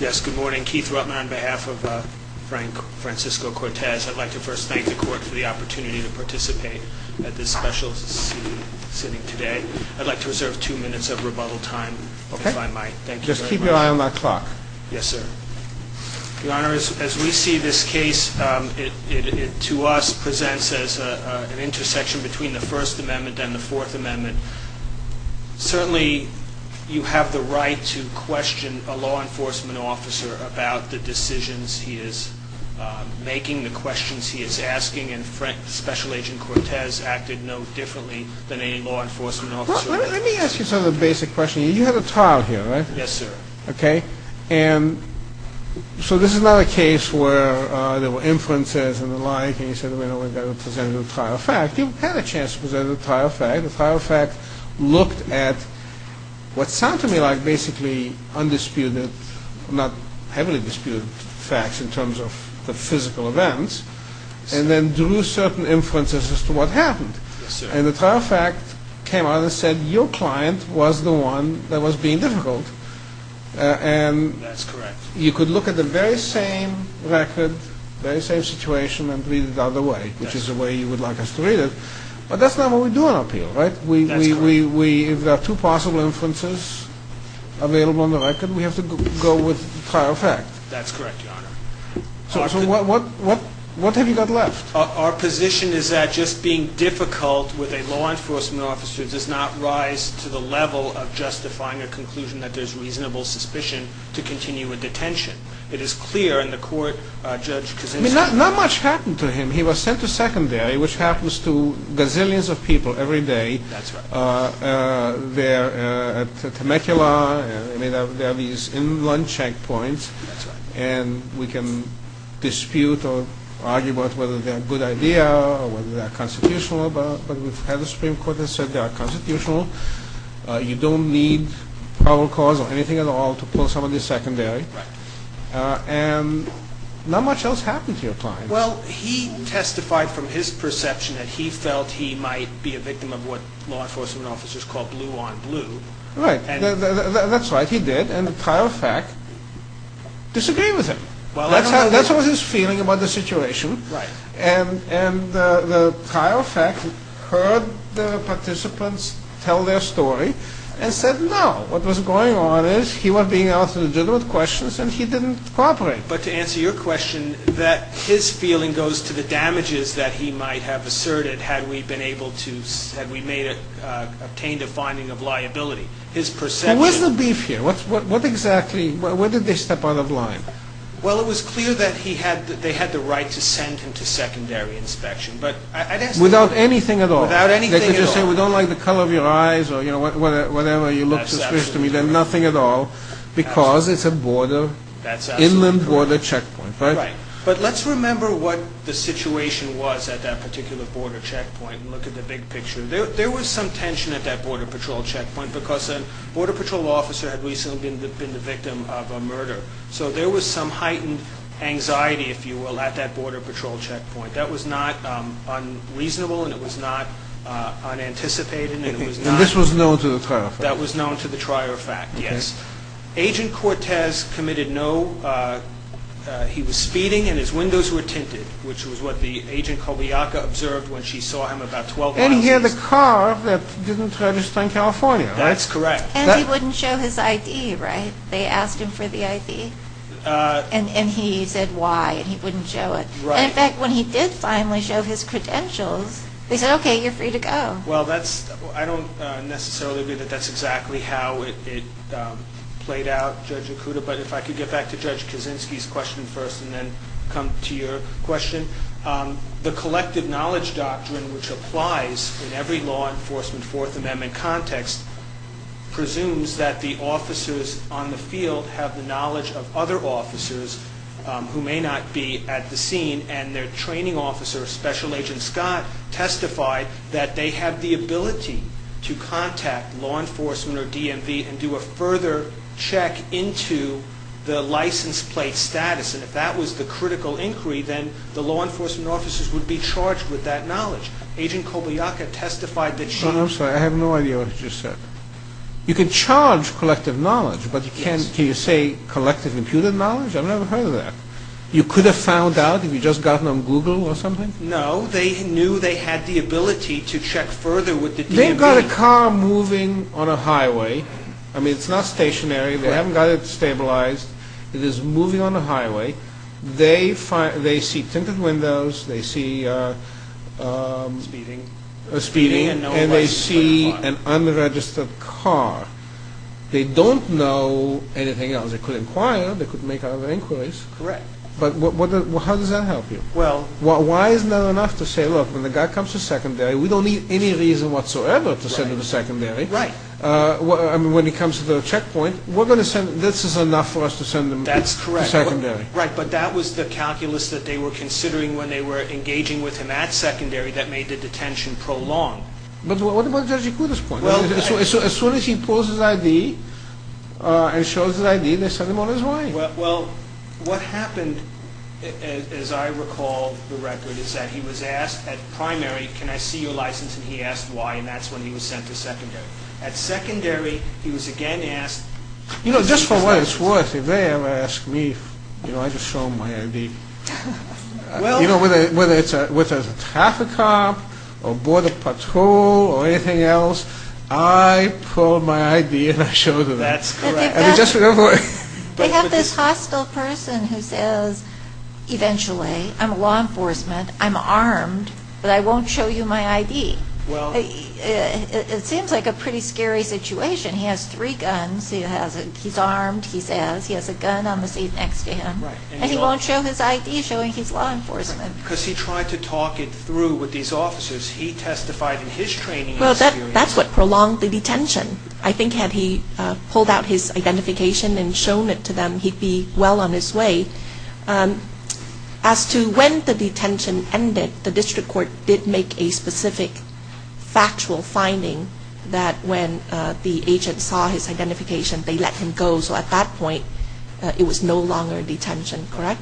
Yes, good morning Keith Rutman on behalf of Frank Francisco Cortez I'd like to first thank the court for the opportunity to participate at this special Sitting today. I'd like to reserve two minutes of rebuttal time. Okay, Mike. Thank you. Just keep your eye on that clock. Yes, sir The honor is as we see this case To us presents as an intersection between the First Amendment and the Fourth Amendment Certainly you have the right to question a law enforcement officer about the decisions he is Making the questions he is asking and Frank special agent Cortez acted no differently than any law enforcement officer Let me ask you some of the basic question. You had a trial here, right? Yes, sir. Okay, and So this is not a case where there were inferences and the like and you said we don't want to present a trial fact You had a chance to present a trial fact the trial fact looked at What sound to me like basically? Undisputed not heavily disputed facts in terms of the physical events and then drew certain Inferences as to what happened and the trial fact came out and said your client was the one that was being difficult And that's correct. You could look at the very same record very same situation and read it the other way Which is the way you would like us to read it, but that's not what we're doing up here, right? We have two possible inferences Available on the record. We have to go with trial fact. That's correct So what what what what have you got left? Our position is that just being difficult with a law enforcement officer does not rise to the level of justifying a conclusion that there's Reasonable suspicion to continue with detention. It is clear in the court judge Not much happened to him he was sent to secondary which happens to gazillions of people every day They're Temecula, I mean there are these in one checkpoints and we can Dispute or argue about whether they're a good idea or whether they're constitutional, but we've had the Supreme Court has said they are constitutional You don't need our cause or anything at all to pull some of the secondary and Not much else happened to your client Well, he testified from his perception that he felt he might be a victim of what law enforcement officers called blue on blue Right, and that's right. He did and the trial fact Disagree with him. Well, that's how that's what his feeling about the situation, right? And and the trial fact heard the participants tell their story and said no What was going on is he was being asked legitimate questions, and he didn't cooperate But to answer your question that his feeling goes to the damages that he might have asserted had we been able to said we made Obtained a finding of liability his person was the beef here. What's what exactly what did they step out of line? Well, it was clear that he had that they had the right to send him to secondary inspection But I guess without anything at all without anything We don't like the color of your eyes or you know, whatever you look suspicious to me Nothing at all because it's a border that's inland border checkpoint, right? But let's remember what the situation was at that particular border checkpoint and look at the big picture There was some tension at that Border Patrol checkpoint because a Border Patrol officer had recently been the victim of a murder So there was some heightened Anxiety if you will at that Border Patrol checkpoint that was not unreasonable, and it was not Unanticipated and this was known to the trial that was known to the trier fact. Yes agent Cortez committed. No He was speeding and his windows were tinted Which was what the agent called the yaka observed when she saw him about 12 and here the car that didn't register in, California That's correct. That wouldn't show his ID, right? They asked him for the ID And and he said why he wouldn't show it right back when he did finally show his credentials. They said, okay, you're free to go Well, that's I don't necessarily agree that that's exactly how it Played out judge Akuta, but if I could get back to judge Kaczynski's question first and then come to your question The collective knowledge doctrine which applies in every law enforcement Fourth Amendment context Presumes that the officers on the field have the knowledge of other officers Who may not be at the scene and their training officer special agent Scott? Testified that they have the ability to contact law enforcement or DMV and do a further check into The license plate status and if that was the critical inquiry then the law enforcement officers would be charged with that knowledge Agent Kobayaka testified that she I'm sorry. I have no idea what you said You can charge collective knowledge, but you can't can you say collective computer knowledge? I've never heard of that. You could have found out if you just gotten on Google or something No, they knew they had the ability to check further with the name got a car moving on a highway I mean, it's not stationary. They haven't got it stabilized. It is moving on the highway They find they see tinted windows. They see Speeding a speeding and they see an unregistered car They don't know anything else. They could inquire they could make other inquiries, correct But what how does that help you? Well, well, why is not enough to say look when the guy comes to secondary? We don't need any reason whatsoever to send to the secondary, right? Well, I mean when he comes to the checkpoint, we're gonna send this is enough for us to send them. That's correct I can do it, right But that was the calculus that they were considering when they were engaging with him at secondary that made the detention prolong But what about judge? You could as well. So as soon as he pulls his ID And shows his ID they sent him on his way. Well, what happened? As I recall the record is that he was asked at primary Can I see your license and he asked why and that's when he was sent to secondary at secondary? He was again asked, you know, just for what it's worth if they ever asked me, you know, I just show my ID Well, you know whether whether it's a with a traffic cop or border patrol or anything else. I Pulled my ID and I showed her that's just They have this hostile person who says Eventually, I'm a law enforcement. I'm armed, but I won't show you my ID. Well It seems like a pretty scary situation. He has three guns. He has it. He's armed He says he has a gun on the seat next to him And he won't show his ID showing his law enforcement because he tried to talk it through with these officers He testified in his training. Well, that that's what prolonged the detention I think had he pulled out his identification and shown it to them. He'd be well on his way As to when the detention ended the district court did make a specific Factual finding that when the agent saw his identification they let him go. So at that point It was no longer detention, correct?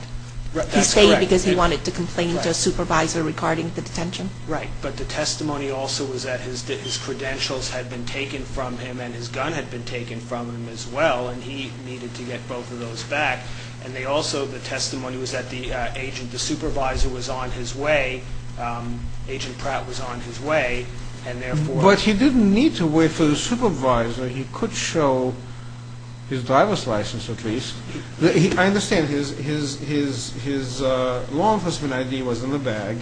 Because he wanted to complain to a supervisor regarding the detention, right But the testimony also was that his credentials had been taken from him and his gun had been taken from him as well And he needed to get both of those back and they also the testimony was that the agent the supervisor was on his way Agent Pratt was on his way and therefore what he didn't need to wait for the supervisor. He could show His driver's license at least he I understand his his his his Law enforcement ID was in the bag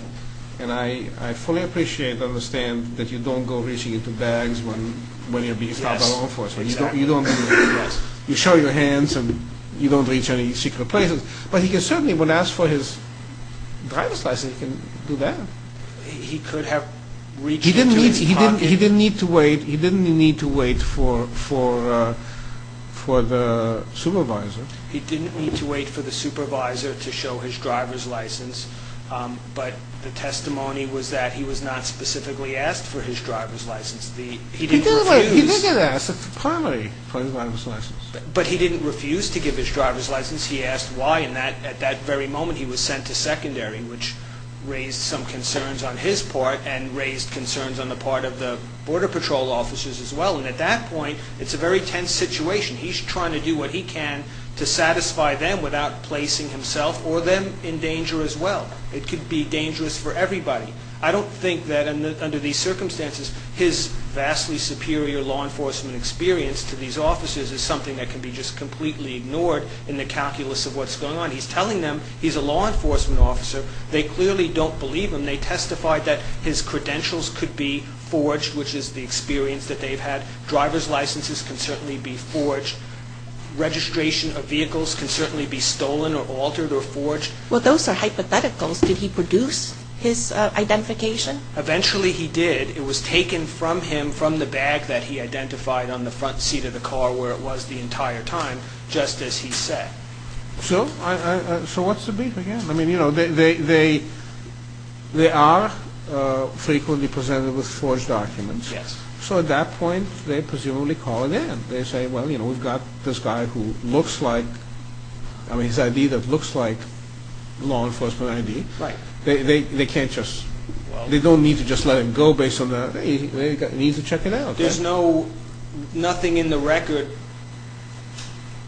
and I I fully appreciate I understand that you don't go reaching into bags when when you're being stopped by law enforcement You show your hands and you don't reach any secret places, but he can certainly when asked for his Driver's license he can do that. He could have reached. He didn't he didn't he didn't need to wait. He didn't need to wait for for For the supervisor, he didn't need to wait for the supervisor to show his driver's license But the testimony was that he was not specifically asked for his driver's license the he didn't Ask for his driver's license, but he didn't refuse to give his driver's license He asked why in that at that very moment He was sent to secondary which raised some concerns on his part and raised concerns on the part of the Border Patrol Officers as well. And at that point it's a very tense situation He's trying to do what he can to satisfy them without placing himself or them in danger as well It could be dangerous for everybody. I don't think that and under these circumstances his vastly superior law enforcement Experience to these officers is something that can be just completely ignored in the calculus of what's going on He's telling them he's a law enforcement officer. They clearly don't believe him Testified that his credentials could be forged which is the experience that they've had driver's licenses can certainly be forged Registration of vehicles can certainly be stolen or altered or forged. Well, those are hypotheticals. Did he produce his identification? Eventually he did it was taken from him from the bag that he identified on the front seat of the car where it was the entire time just as he said so I so what's the beef again, I mean, you know, they they They are Frequently presented with forged documents. Yes. So at that point they presumably call again They say well, you know, we've got this guy who looks like I mean his ID that looks like Law enforcement ID, right? They can't just they don't need to just let him go based on that Needs to check it out. There's no Nothing in the record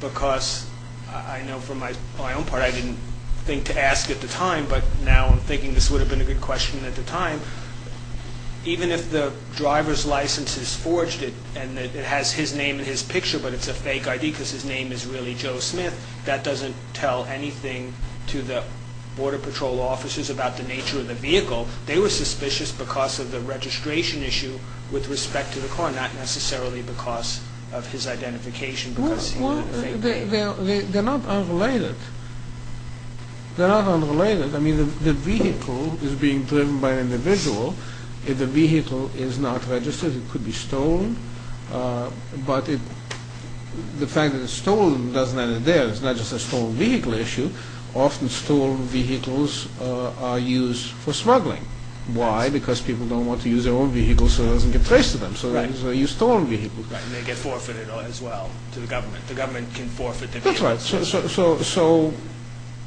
Because I know from my own part I didn't think to ask at the time But now I'm thinking this would have been a good question at the time Even if the driver's license is forged it and that it has his name in his picture But it's a fake ID because his name is really Joe Smith that doesn't tell anything to the border patrol officers about the nature of the vehicle they were suspicious because of the registration issue with respect to the car not necessarily because of his identification because They're not unrelated They're not unrelated. I mean the vehicle is being driven by an individual if the vehicle is not registered. It could be stolen but it The fact that it's stolen doesn't end it there. It's not just a stolen vehicle issue often stolen vehicles Are used for smuggling why because people don't want to use their own vehicle so it doesn't get traced to them So you stole me and they get forfeited as well to the government. The government can forfeit it. That's right. So so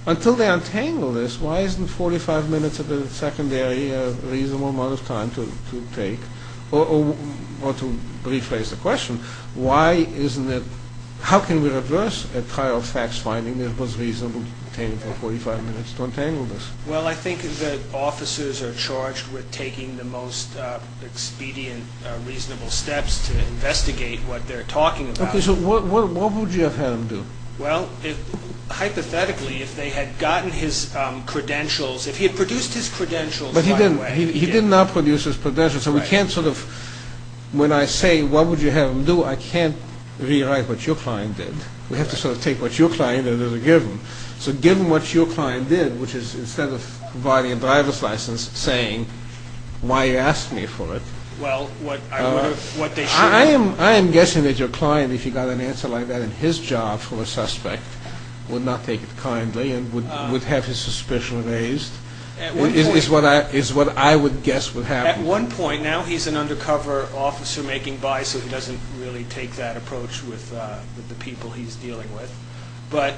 Until they untangle this why isn't 45 minutes of the secondary a reasonable amount of time to take? Or to rephrase the question Why isn't it? How can we reverse a trial facts finding it was reasonable to detain him for 45 minutes to untangle this? Well, I think the officers are charged with taking the most expedient reasonable steps to investigate what they're talking about. Okay, so what would you have had him do? Well, hypothetically if they had gotten his Credentials if he had produced his credentials, but he didn't he didn't not produce his credentials. So we can't sort of When I say what would you have him do I can't rewrite what your client did we have to sort of take what your client Is a given so given what your client did which is instead of buying a driver's license saying? Why you asked me for it? Well What they I am I am guessing that your client if you got an answer like that in his job for a suspect Would not take it kindly and would would have his suspicion raised Is what I is what I would guess would have at one point now He's an undercover officer making by so he doesn't really take that approach with the people he's dealing with but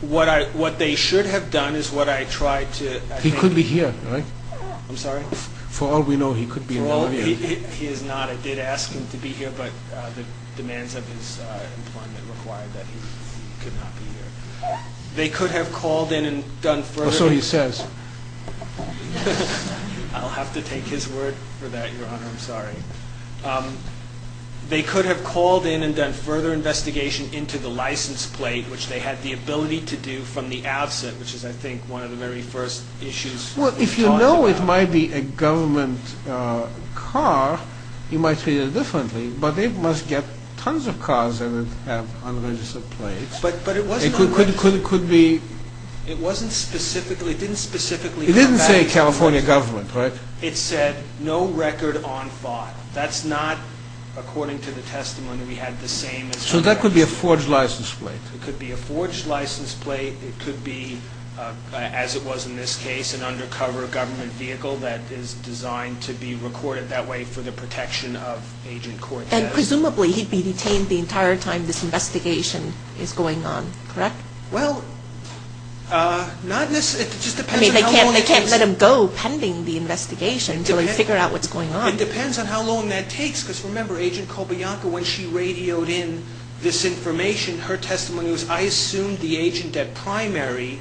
What I what they should have done is what I tried to he could be here, right? I'm sorry for all we know He could be he is not I did ask him to be here, but the demands of his They could have called in and done so he says They could have called in and done further investigation into the license plate which they had the ability to do from the absent Which is I think one of the very first issues. Well, if you know, it might be a government Car you might see it differently, but they must get tons of cars and But but it was it could it could it could be it wasn't specifically didn't specifically it didn't say, California government, right? It said no record on file. That's not According to the testimony we had the same so that could be a forged license plate. It could be a forged license plate It could be As it was in this case an undercover government vehicle that is designed to be recorded that way for the protection of Agent court and presumably he'd be detained the entire time. This investigation is going on, correct? Well Not this it just I mean they can't they can't let him go pending the investigation Do they figure out what's going on? It depends on how long that takes because remember agent called Bianca when she radioed in this information her testimony was I assumed the agent at Primary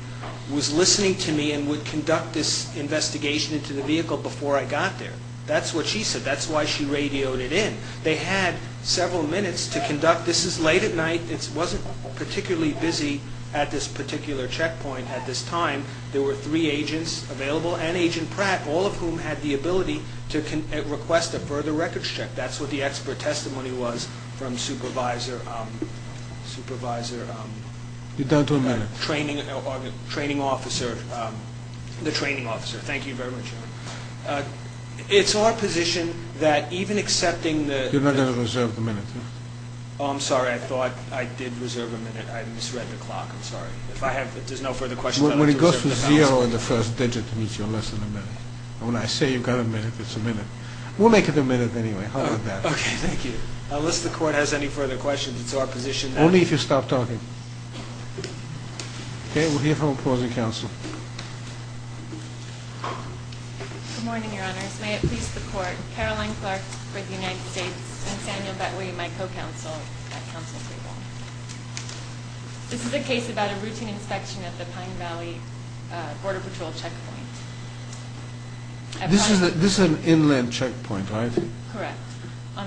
was listening to me and would conduct this investigation into the vehicle before I got there. That's what she said That's why she radioed it in they had several minutes to conduct. This is late at night It wasn't particularly busy at this particular checkpoint at this time There were three agents available and agent Pratt all of whom had the ability to request a further records check That's what the expert testimony was from supervisor supervisor You down to a minute training training officer the training officer, thank you very much It's our position that even accepting the you're not gonna reserve the minute. I'm sorry. I thought I did reserve a minute I misread the clock I'm sorry If I have there's no further question when it goes to zero in the first digit to meet you unless in a minute And when I say you've got a minute, it's a minute. We'll make it a minute. Anyway, how about that? Okay. Thank you. Unless the court has any further questions. It's our position only if you stop talking Okay, we'll hear from opposing counsel This is a case about a routine inspection at the Pine Valley Border Patrol checkpoint This is that this is an inland checkpoint, right?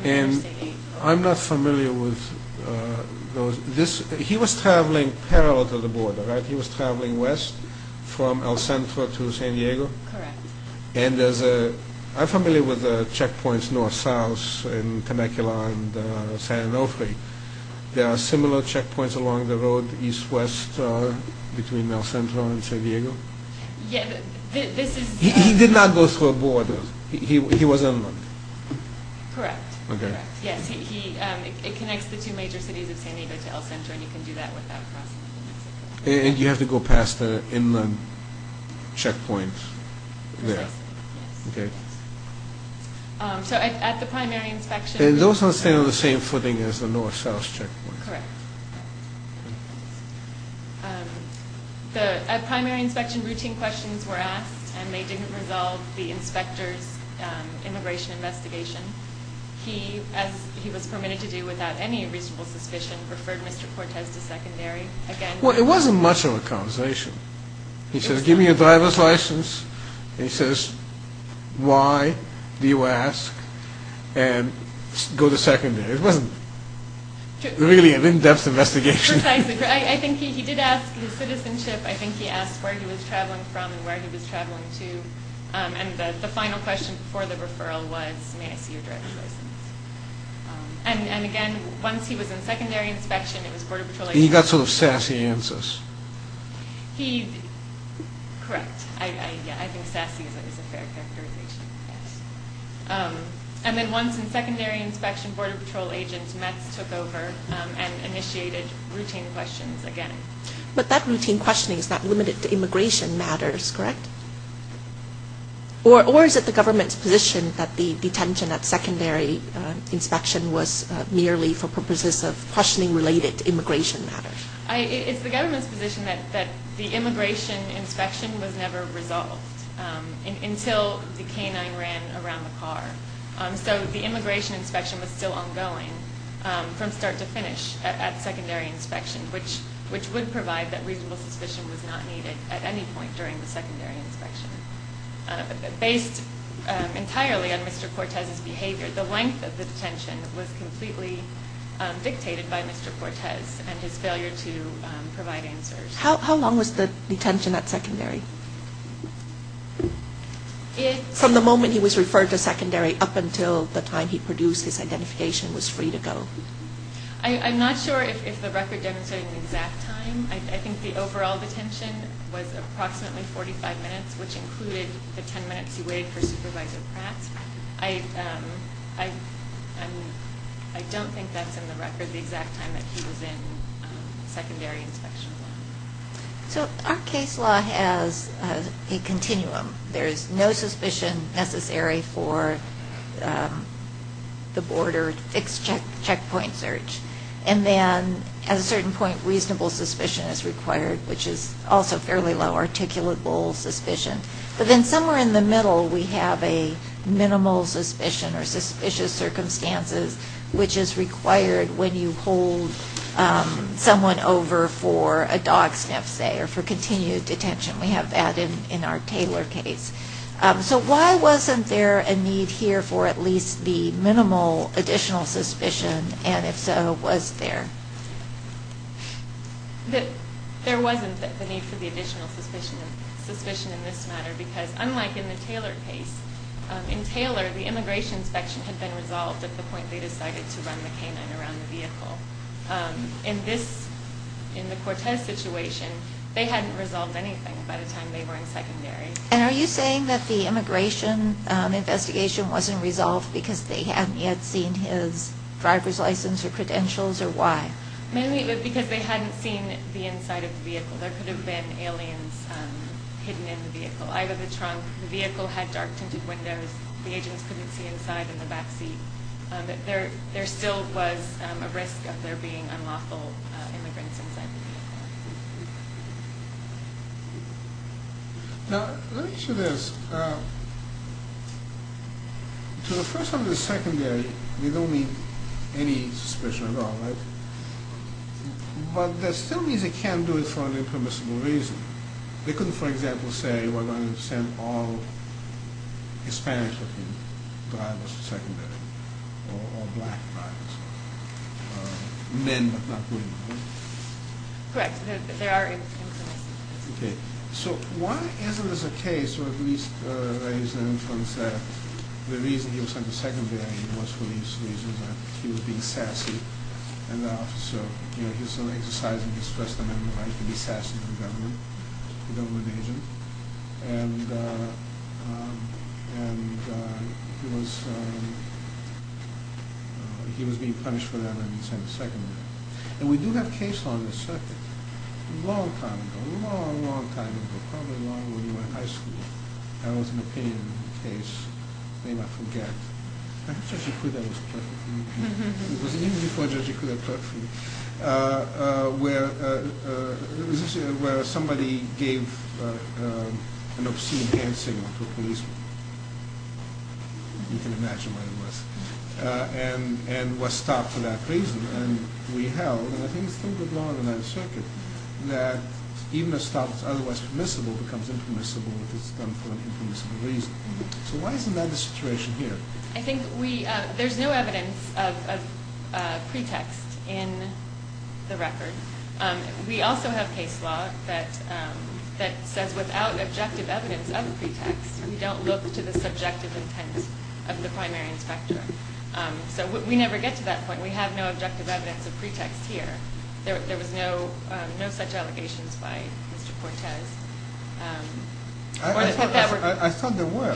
And I'm not familiar with Those this he was traveling parallel to the border, right? He was traveling west from El Centro to San Diego And there's a I'm familiar with the checkpoints north-south in Temecula and San Onofre There are similar checkpoints along the road east-west between El Centro and San Diego He did not go through a border he was in And you have to go past the in the checkpoints And those are staying on the same footing as the north-south check The primary inspection routine questions were asked and they didn't resolve the inspectors immigration investigation He as he was permitted to do without any reasonable suspicion referred mr. Cortez to secondary Well, it wasn't much of a conversation He says give me a driver's license. He says why do you ask and Go to secondary. It wasn't Really an in-depth investigation. I think he did ask the citizenship I think he asked where he was traveling from and where he was traveling to And the final question for the referral was And again once he was in secondary inspection it was border patrol he got sort of sassy answers And then once in secondary inspection border patrol agents met took over and initiated routine questions again But that routine questioning is not limited to immigration matters, correct? Or or is it the government's position that the detention at secondary? Inspection was merely for purposes of questioning related to immigration matters I it's the government's position that that the immigration inspection was never resolved Until the canine ran around the car. So the immigration inspection was still ongoing From start to finish at secondary inspection, which which would provide that reasonable suspicion was not needed at any point during the secondary inspection Based entirely on mr. Cortez's behavior the length of the detention was completely Dictated by mr. Cortez and his failure to provide answers. How long was the detention at secondary? It from the moment he was referred to secondary up until the time he produced his identification was free to go I'm not sure I Don't think that's in the record the exact time that he was in secondary inspection So our case law has a continuum. There is no suspicion necessary for The border fixed check checkpoint search and then at a certain point reasonable suspicion is required which is also fairly low articulable suspicion, but then somewhere in the middle we have a Minimal suspicion or suspicious circumstances, which is required when you hold Someone over for a dog sniff say or for continued detention. We have that in in our Taylor case So why wasn't there a need here for at least the minimal additional suspicion and if so was there? That there wasn't that the need for the additional suspicion and suspicion in this matter because unlike in the Taylor case In Taylor the immigration inspection had been resolved at the point. They decided to run the canine around the vehicle in this In the Cortez situation, they hadn't resolved anything by the time they were in secondary. And are you saying that the immigration? Investigation wasn't resolved because they hadn't yet seen his driver's license or credentials or why? Maybe it was because they hadn't seen the inside of the vehicle. There could have been aliens Hidden in the vehicle either the trunk the vehicle had dark tinted windows. The agents couldn't see inside in the backseat There there still was a risk of there being unlawful Now To the first of the secondary we don't need any special But that still means it can't do it for an impermissible reason they couldn't for example say we're going to send all Hispanic Men Correct Okay, so why isn't this a case or at least The reason he was on the secondary was for these reasons and he was being sassy and the officer you know, he's only exercising his first amendment right to be sassy to the government the government agent and He was being punished for that and he sent a second and we do have case on the circuit Long time ago long long time ago probably long when we were in high school. That was an opinion case. I may not forget. Where somebody gave an obscene hand signal to a policeman You can imagine what it was And and was stopped for that reason and we held and I think it's still going on in that circuit Even if stops, otherwise permissible becomes impermissible So, why isn't that the situation here I think we there's no evidence of pretext in the record We also have case law that That says without objective evidence of the pretext. We don't look to the subjective intent of the primary inspector So we never get to that point. We have no objective evidence of pretext here There was no no such allegations by Mr. Cortez I thought there were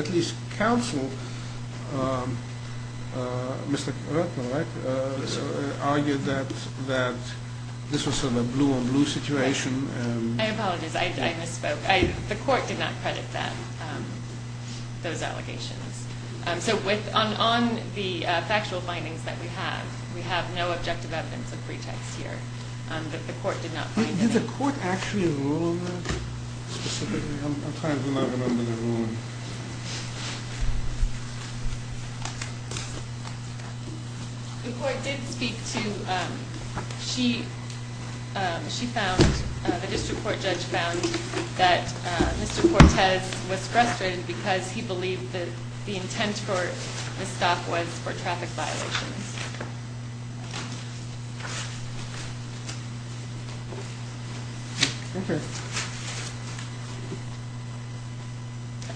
At least counsel Mr. Kurtner Argued that that this was sort of a blue on blue situation The court did not credit them Those allegations and so with on on the factual findings that we have we have no objective evidence of pretext here Did the court actually rule on that? The court did speak to she She found the district court judge found that Mr. Cortez was frustrated because he believed that the intent for the stop was for traffic violations Okay,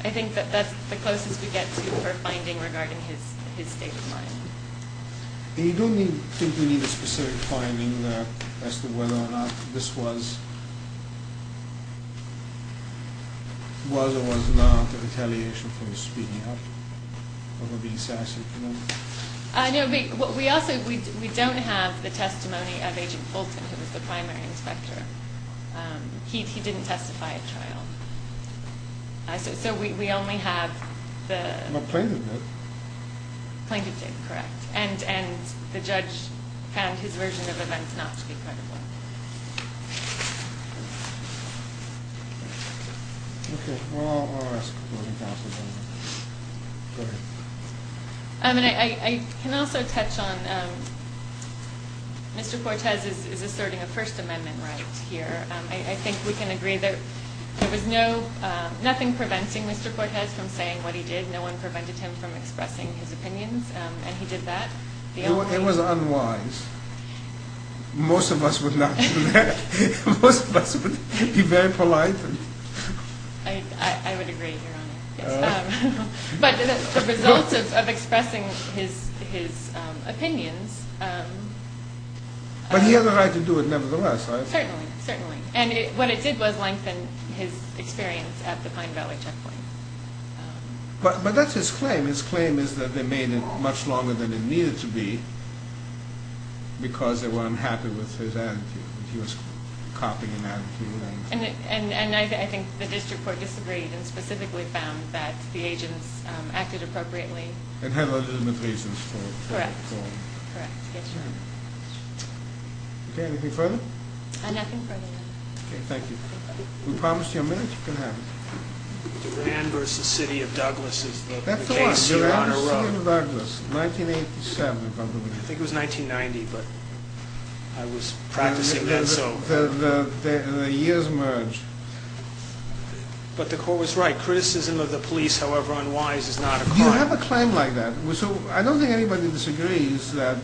I Think that that's the closest we get to her finding regarding his his state of mind You don't think we need a specific finding as to whether or not this was Was or was not an retaliation from speaking up I know we what we also we don't have the testimony of agent Fulton who was the primary inspector He didn't testify at trial So we only have the Plaintiff did correct and and the judge found his version of events not to be credible I mean, I can also touch on Mr. Cortez is asserting a First Amendment right here. I think we can agree that there was no nothing preventing Mr. Cortez from saying what he did no one prevented him from expressing his opinions and he did that it was unwise Most of us would not Be very polite But the results of expressing his his opinions But he had the right to do it nevertheless And it what it did was lengthen his experience at the Pine Valley checkpoint But but that's his claim. His claim is that they made it much longer than it needed to be Because they weren't happy with his attitude And and and I think the district court disagreed and specifically found that the agents acted appropriately and had legitimate reasons Okay, anything further Thank you Versus City of Douglas 1987 I think it was 1990 but I was practicing that so the years merge But the court was right criticism of the police, however unwise is not you have a claim like that So I don't think anybody disagrees that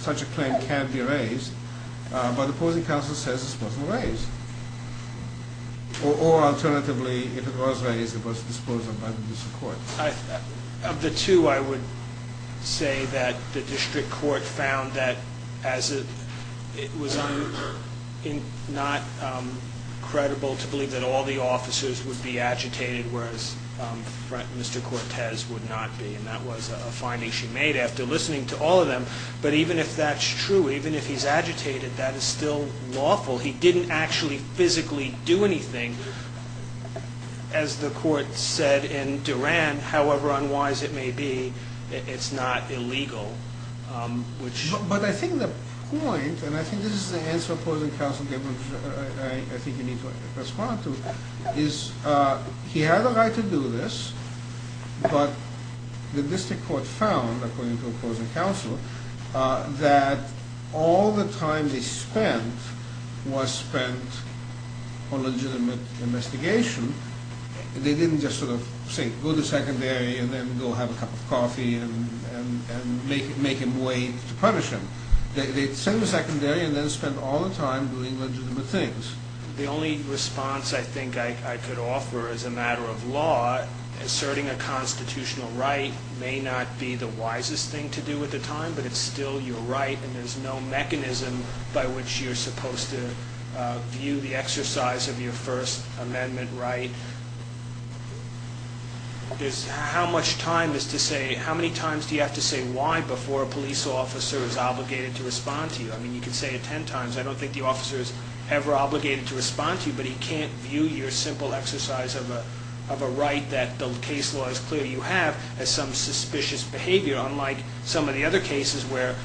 Such a claim can't be raised But the opposing counsel says it's supposed to raise Or alternatively if it was raised it was disposed of by the district court of the two I would say that the district court found that as it it was in not Credible to believe that all the officers would be agitated whereas Mr. Cortez would not be and that was a finding she made after listening to all of them But even if that's true, even if he's agitated that is still lawful he didn't actually physically do anything as The court said in Duran, however, unwise it may be it's not illegal Which but I think the point and I think this is the answer opposing counsel Is He had a right to do this but The district court found according to opposing counsel That all the time they spent was spent on legitimate investigation they didn't just sort of say go to secondary and then go have a cup of coffee and Make it make him wait to punish him. They'd send the secondary and then spend all the time doing legitimate things The only response I think I could offer as a matter of law Asserting a constitutional right may not be the wisest thing to do at the time But it's still your right and there's no mechanism by which you're supposed to View the exercise of your First Amendment, right? There's how much time is to say how many times do you have to say why before a police officer is Obligated to respond to you. I mean you can say it ten times I don't think the officers ever obligated to respond to you You can't view your simple exercise of a of a right that the case law is clear You have as some suspicious behavior unlike some of the other cases where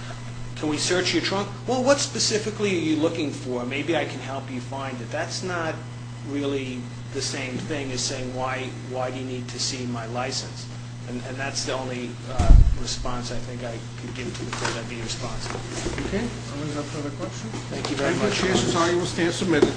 can we search your trunk? Well, what specifically are you looking for? Maybe I can help you find it That's not really the same thing as saying why why do you need to see my license? And that's the only Response, I think I could give to the court I'd be responsible Thank you very much